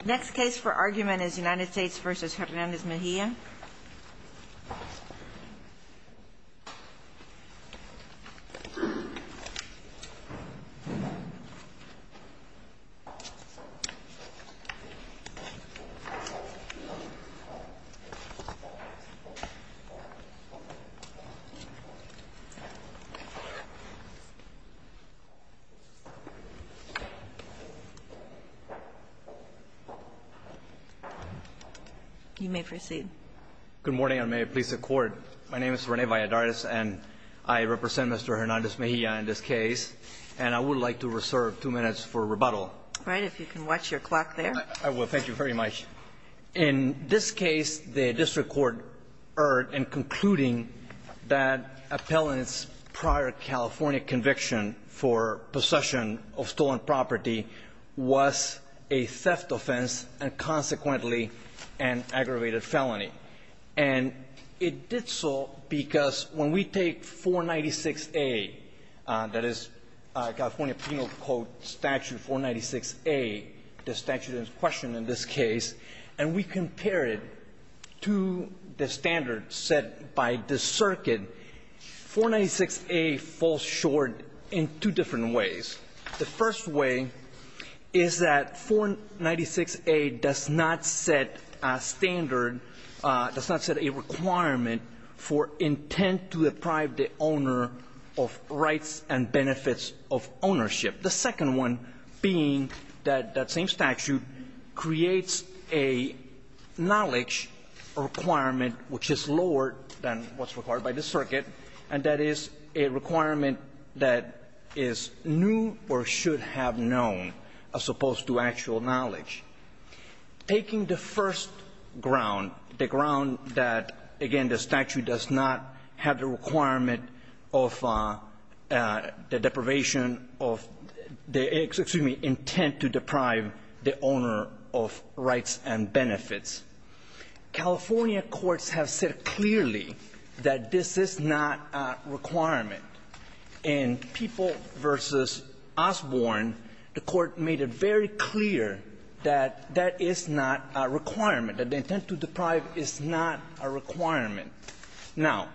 The next case for argument is United States v. Hernandez-Mejia. You may proceed. Good morning, and may it please the Court. My name is Rene Valladares, and I represent Mr. Hernandez-Mejia in this case. And I would like to reserve two minutes for rebuttal. All right. If you can watch your clock there. I will. Thank you very much. In this case, the district court erred in concluding that appellant's prior California conviction for possession of stolen property was a theft offense and, consequently, an aggravated felony. And it did so because when we take 496A, that is California Penal Code Statute 496A, the statute in question in this case, and we compare it to the standard set by the circuit, 496A falls short in two different ways. The first way is that 496A does not set a standard, does not set a requirement for intent to deprive the owner of rights and benefits of ownership. The second one being that that same statute creates a knowledge requirement which is lower than what's required by the circuit, and that is a requirement that is new or should have known as opposed to actual knowledge. Taking the first ground, the ground that, again, the statute does not have the requirement of the deprivation of the excuse me, intent to deprive the owner of rights and benefits, California courts have said clearly that this is not a requirement. In People v. Osborne, the Court made it very clear that that is not a requirement, that the intent to deprive is not a requirement. Now,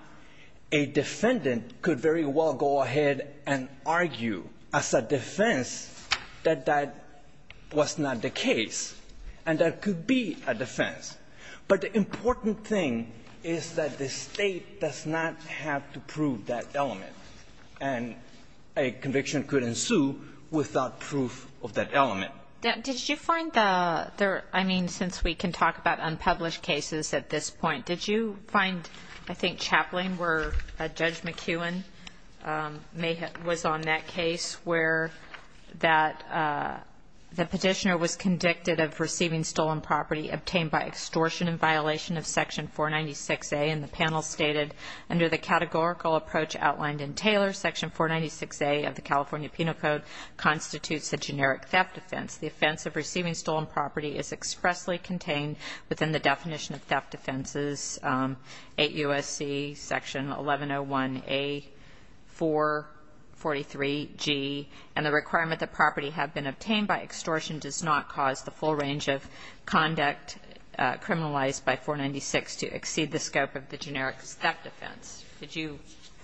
a defendant could very well go ahead and argue as a defense that that was not the case, and that could be a defense. But the important thing is that the State does not have to prove that element. And a conviction could ensue without proof of that element. Kagan. Did you find the other – I mean, since we can talk about unpublished cases at this point, did you find, I think, Chaplain where Judge McKeown was on that case where the petitioner was convicted of receiving stolen property obtained by extortion in violation of Section 496A, and the panel stated, under the categorical approach outlined in Taylor, Section 496A of the California Penal Code constitutes a generic theft offense. The offense of receiving stolen property is expressly contained within the definition of theft offenses, 8 U.S.C. Section 1101A, 443G. And the requirement that property have been obtained by extortion does not cause the full range of conduct criminalized by 496 to exceed the scope of the generic theft offense. Did you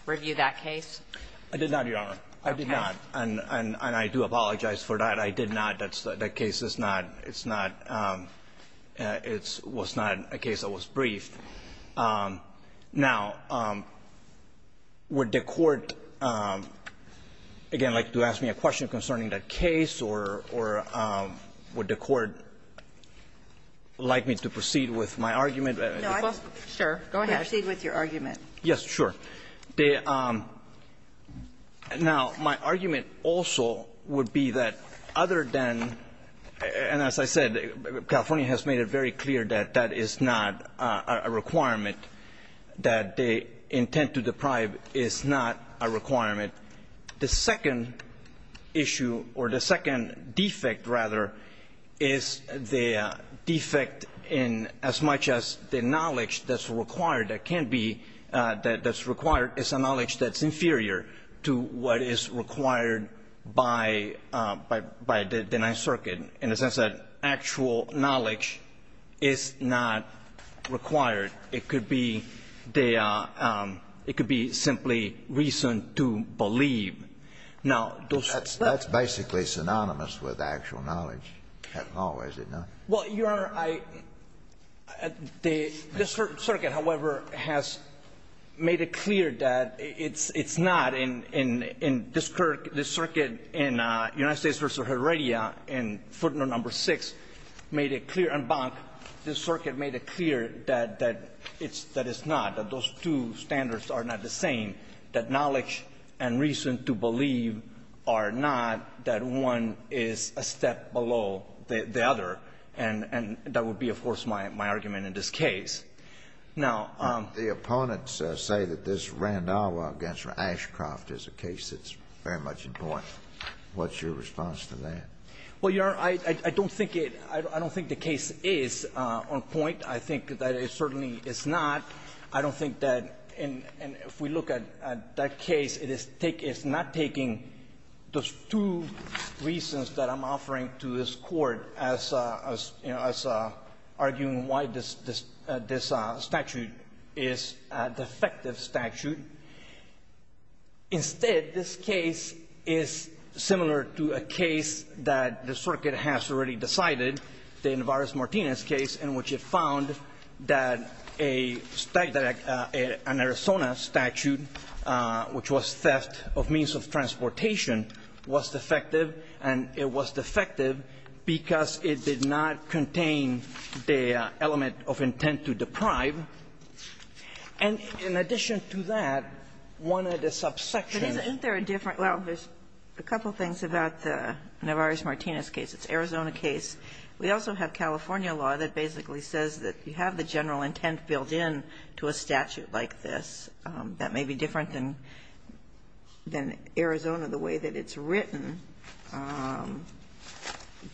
review that case? I did not, Your Honor. I did not. And I do apologize for that. I did not. That case is not – it's not – it was not a case that was briefed. Now, would the Court, again, like to ask me a question concerning that case, or would the Court like me to proceed with my argument? No. Sure. Go ahead. Proceed with your argument. Yes, sure. Now, my argument also would be that other than – and as I said, California has made it very clear that that is not a requirement, that the intent to deprive is not a requirement. The second issue, or the second defect, rather, is the defect in as much as the required is a knowledge that's inferior to what is required by the Ninth Circuit in the sense that actual knowledge is not required. It could be they are – it could be simply reason to believe. Now, those – That's basically synonymous with actual knowledge at law, is it not? Well, Your Honor, I – the circuit, however, has made it clear that it's – it's not in this circuit in United States v. Heredia in Footnote No. 6 made it clear and Bonk, this circuit made it clear that it's – that it's not, that those two standards are not the same, that knowledge and reason to believe are not, that one is a step below the other, and that would be, of course, my argument in this case. Now – The opponents say that this Randhawa v. Ashcroft is a case that's very much in point. What's your response to that? Well, Your Honor, I don't think it – I don't think the case is on point. I think that it certainly is not. I don't think that – and if we look at that case, it is – it's not taking those two reasons that I'm offering to this Court as – as arguing why this statute is a defective statute. Instead, this case is similar to a case that the circuit has already decided, the Navarez-Martinez case, in which it found that a – an Arizona statute, which was theft of means of transportation, was defective, and it was defective because it did not contain the element of intent to deprive. And in addition to that, one of the subsections – But isn't there a different – well, there's a couple things about the Navarez-Martinez case. It's an Arizona case. We also have California law that basically says that you have the general intent built in to a statute like this. That may be different than – than Arizona, the way that it's written.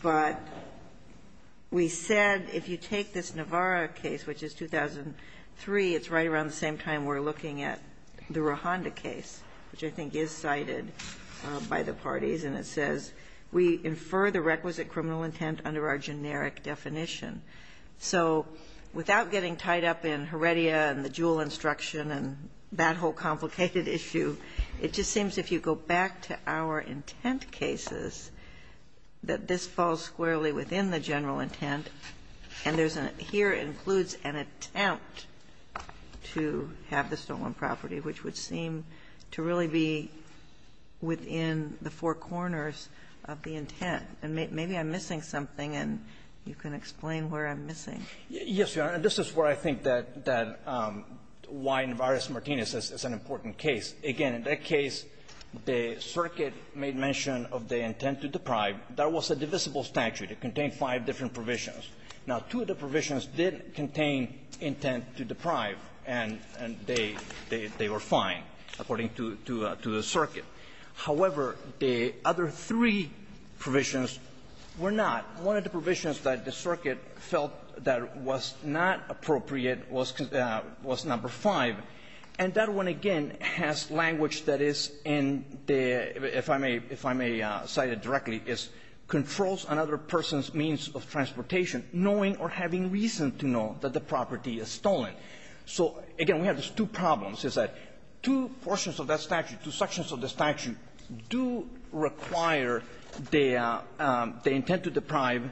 But we said if you take this Navarez case, which is 2003, it's right around the same time we're looking at the Rojanda case, which I think is cited by the parties. And it says, we infer the requisite criminal intent under our generic definition. So without getting tied up in Heredia and the Juul instruction and that whole complicated issue, it just seems if you go back to our intent cases, that this falls squarely within the general intent, and there's an – here includes an attempt to have the of the intent. And maybe I'm missing something, and you can explain where I'm missing. Yes, Your Honor. This is where I think that – that why Navarez-Martinez is an important case. Again, in that case, the circuit made mention of the intent to deprive. That was a divisible statute. It contained five different provisions. Now, two of the provisions did contain intent to deprive, and they – they were fine, according to the circuit. However, the other three provisions were not. One of the provisions that the circuit felt that was not appropriate was – was number five. And that one, again, has language that is in the – if I may – if I may cite it directly, is controls another person's means of transportation, knowing or having reason to know that the property is stolen. So, again, we have these two problems, is that two portions of that statute, two sections of the statute, do require the – the intent to deprive.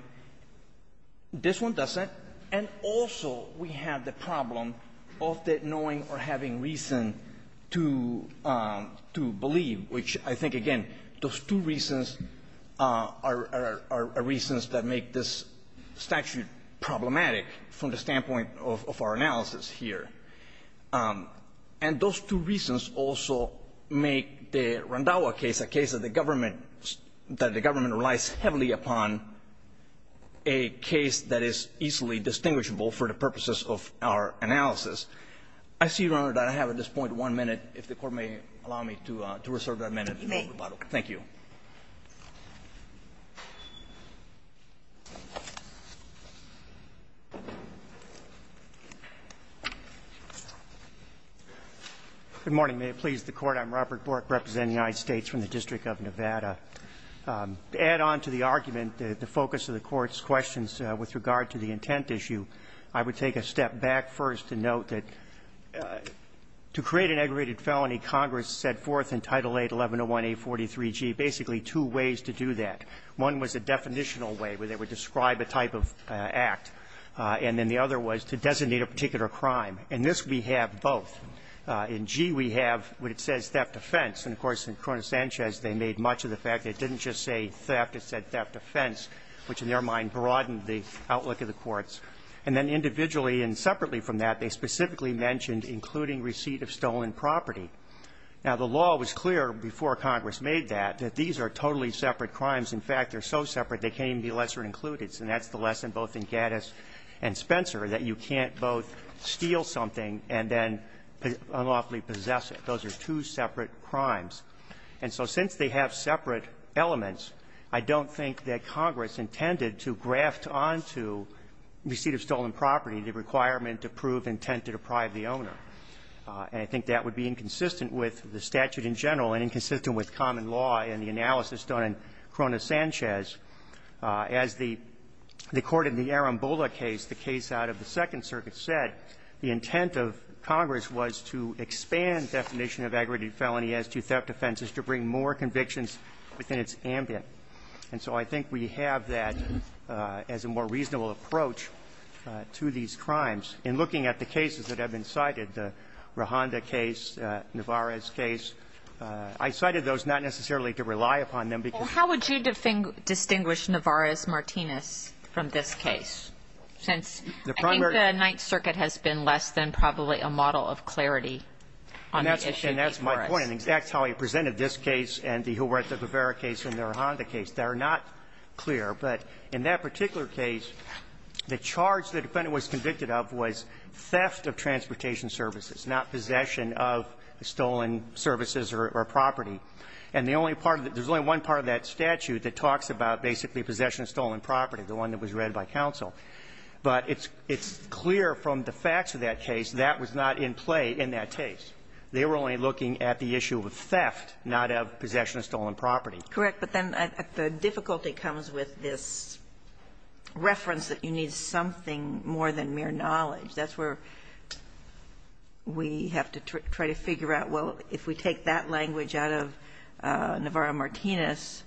This one doesn't. And also, we have the problem of the knowing or having reason to – to believe, which I think, again, those two reasons are – are reasons that make this statute problematic from the standpoint of our analysis here. And those two reasons also make the Randhawa case a case that the government – that the government relies heavily upon a case that is easily distinguishable for the purposes of our analysis. I see, Your Honor, that I have at this point one minute. If the Court may allow me to reserve that minute. Thank you. MR. BORK, REPRESENTING THE UNITED STATES, UNITED STATES DISTRICT OF NEVADA. To add on to the argument, the focus of the Court's questions with regard to the intent issue, I would take a step back first to note that to create an aggravated felony, Congress set forth in Title VIII, 1101A43G, the intent to deprive. And there were basically two ways to do that. One was a definitional way, where they would describe a type of act. And then the other was to designate a particular crime. And this we have both. In G, we have what it says, theft offense. And, of course, in Corona-Sanchez, they made much of the fact that it didn't just say theft, it said theft offense, which in their mind broadened the outlook of the courts. And then individually and separately from that, they specifically mentioned including receipt of stolen property. Now, the law was clear before Congress made that, that these are totally separate crimes. In fact, they're so separate, they can't even be lesser included. And that's the lesson both in Gaddis and Spencer, that you can't both steal something and then unlawfully possess it. Those are two separate crimes. And so since they have separate elements, I don't think that Congress intended to graft onto receipt of stolen property the requirement to prove intent to deprive the owner. And I think that would be inconsistent with the statute in general and inconsistent with common law in the analysis done in Corona-Sanchez. As the court in the Arambola case, the case out of the Second Circuit, said the intent of Congress was to expand definition of aggregated felony as to theft offenses to bring more convictions within its ambient. And so I think we have that as a more reasonable approach to these crimes. In looking at the cases that have been cited, the Rojanda case, Navarez case, I cited those not necessarily to rely upon them because they're not clear. Well, how would you distinguish Navarez-Martinez from this case, since I think the Ninth Circuit has been less than probably a model of clarity on the issue before us. And that's my point. That's how I presented this case and the Huerta-Guevara case and the Rojanda They're not clear. But in that particular case, the charge the defendant was convicted of was theft of transportation services, not possession of stolen services or property. And the only part of it, there's only one part of that statute that talks about basically possession of stolen property, the one that was read by counsel. But it's clear from the facts of that case that was not in play in that case. They were only looking at the issue of theft, not of possession of stolen property. Correct. But then the difficulty comes with this reference that you need something more than mere knowledge. That's where we have to try to figure out, well, if we take that language out of Navarez-Martinez,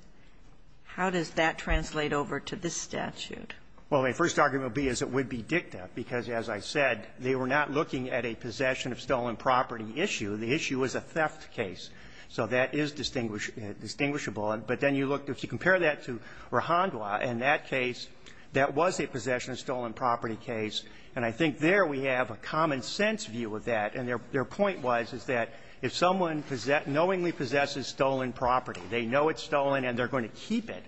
how does that translate over to this statute? Well, my first argument would be as it would be dicta, because as I said, they were not looking at a possession of stolen property issue. The issue was a theft case. So that is distinguishable. But then you look, if you compare that to Rahandwa, in that case, that was a possession of stolen property case, and I think there we have a common-sense view of that. And their point was, is that if someone knowingly possesses stolen property, they know it's stolen and they're going to keep it.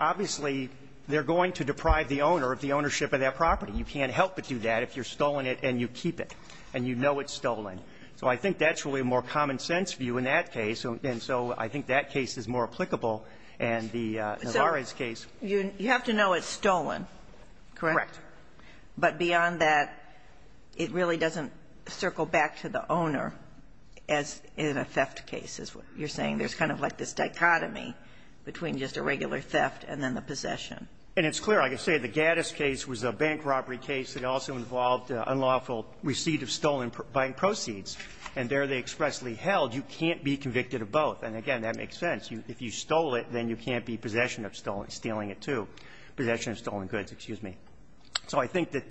Obviously, they're going to deprive the owner of the ownership of that property. You can't help but do that if you're stolen it and you keep it and you know it's stolen. So I think that's really a more common-sense view in that case. And so I think that case is more applicable and the Navarez case. So you have to know it's stolen, correct? Correct. But beyond that, it really doesn't circle back to the owner as in a theft case, is what you're saying. There's kind of like this dichotomy between just a regular theft and then the possession. And it's clear. I can say the Gaddis case was a bank robbery case. It also involved unlawful receipt of stolen buying proceeds. And there they expressly held you can't be convicted of both. And again, that makes sense. If you stole it, then you can't be possession of stolen, stealing it, too. Possession of stolen goods, excuse me. So I think that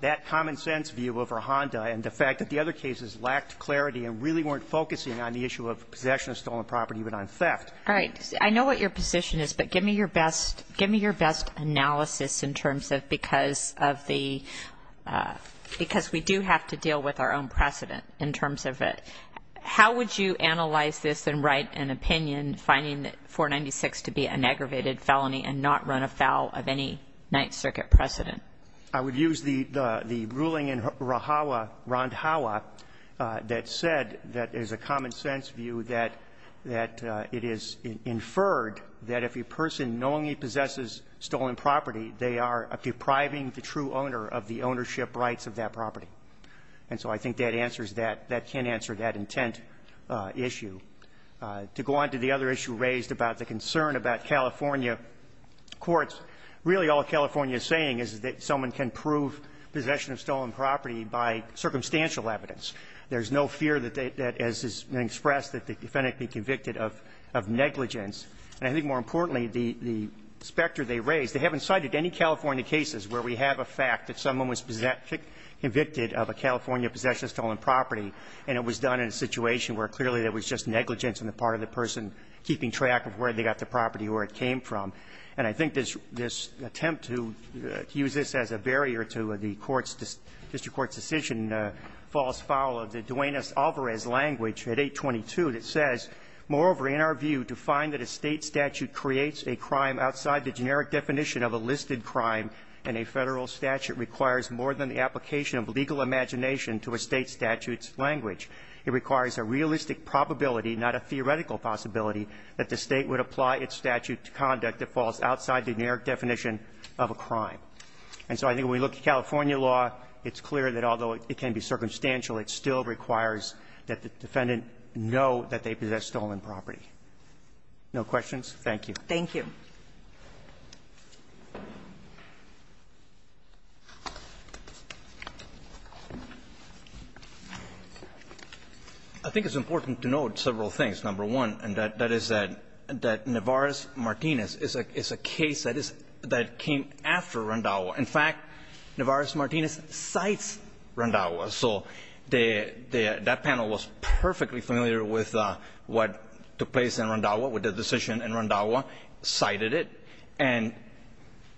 that common-sense view over Honda and the fact that the other cases lacked clarity and really weren't focusing on the issue of possession of stolen property but on theft. All right. I know what your position is, but give me your best analysis in terms of because we do have to deal with our own precedent in terms of it. How would you analyze this and write an opinion finding that 496 to be an aggravated felony and not run afoul of any Ninth Circuit precedent? I would use the ruling in Rojava, that said that there's a common-sense view that it is inferred that if a person knowingly possesses stolen property, they are depriving the true owner of the ownership rights of that property. And so I think that answers that. That can answer that intent issue. To go on to the other issue raised about the concern about California courts, really all California is saying is that someone can prove possession of stolen property by circumstantial evidence. There's no fear that, as has been expressed, that they can't be convicted of negligence. And I think more importantly, the specter they raised, they haven't cited any California cases where we have a fact that someone was convicted of a California possession of stolen property, and it was done in a situation where clearly there was just negligence on the part of the person keeping track of where they got the property or where it came from. And I think this attempt to use this as a barrier to the court's, district court's decision falls foul of the Duenas-Alvarez language at 822 that says, moreover, in our view, to find that a State statute creates a crime outside the generic definition of a listed crime, and a Federal statute requires more than the application of legal imagination to a State statute's language. It requires a realistic probability, not a theoretical possibility, that the State would apply its statute to conduct that falls outside the generic definition of a crime. And so I think when we look at California law, it's clear that although it can be circumstantial, it still requires that the defendant know that they possess stolen property. No questions? Thank you. Thank you. I think it's important to note several things. Number one, and that is that Navarez-Martinez is a case that came after Randhawa. In fact, Navarez-Martinez cites Randhawa. So that panel was perfectly familiar with what took place in Randhawa, with the decision in Randhawa, cited it, and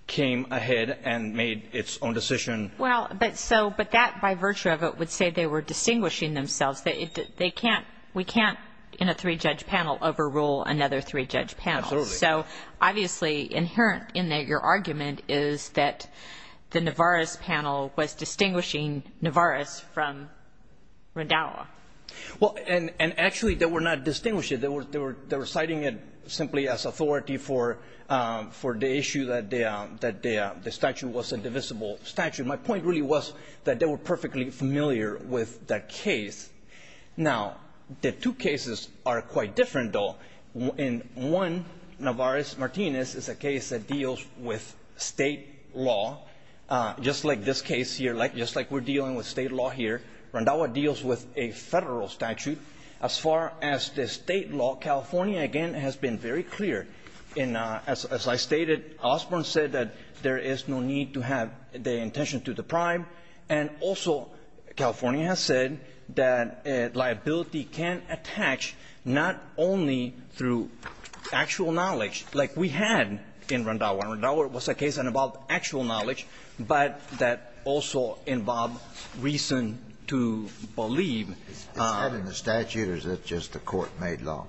came ahead and made its own decision. Well, but so, but that by virtue of it would say they were distinguishing themselves. They can't, we can't in a three-judge panel overrule another three-judge panel. Absolutely. So obviously inherent in your argument is that the Navarez panel was distinguishing Navarez from Randhawa. Well, and actually they were not distinguishing. They were citing it simply as authority for the issue that the statute was a divisible statute. My point really was that they were perfectly familiar with that case. Now, the two cases are quite different, though. In one, Navarez-Martinez is a case that deals with state law, just like this case here, just like we're dealing with state law here. Randhawa deals with a federal statute. As far as the state law, California, again, has been very clear. And as I stated, Osborne said that there is no need to have the intention to deprive, and also California has said that liability can attach not only through actual knowledge, like we had in Randhawa. Randhawa was a case about actual knowledge, but that also involved reason to believe Is that in the statute, or is that just a court-made law?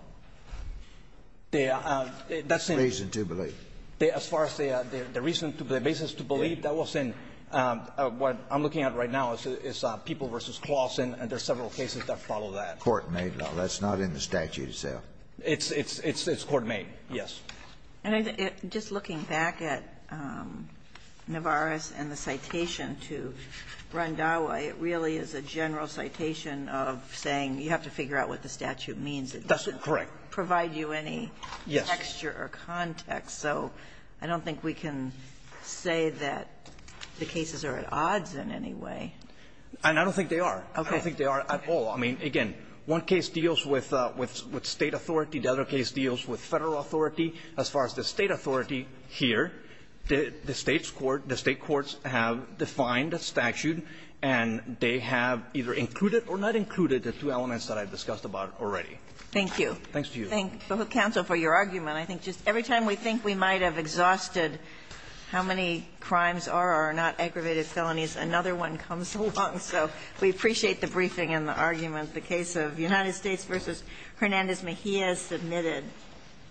Reason to believe. As far as the reason to believe, the basis to believe, that was in what I'm looking at right now is People v. Clausen, and there are several cases that follow that. Court-made law. That's not in the statute itself. It's court-made, yes. And just looking back at Navarez and the citation to Randhawa, it really is a general citation of saying you have to figure out what the statute means. It doesn't provide you any texture or context. Yes. So I don't think we can say that the cases are at odds in any way. And I don't think they are. Okay. I don't think they are at all. I mean, again, one case deals with State authority. The other case deals with Federal authority. As far as the State authority here, the State's court, the State courts have defined a statute, and they have either included or not included the two elements that I've discussed about already. Thank you. Thanks to you. Thank you, counsel, for your argument. I think just every time we think we might have exhausted how many crimes are or are not aggravated felonies, another one comes along. So we appreciate the briefing and the argument. The case of United States v. Hernandez-Mejia is submitted.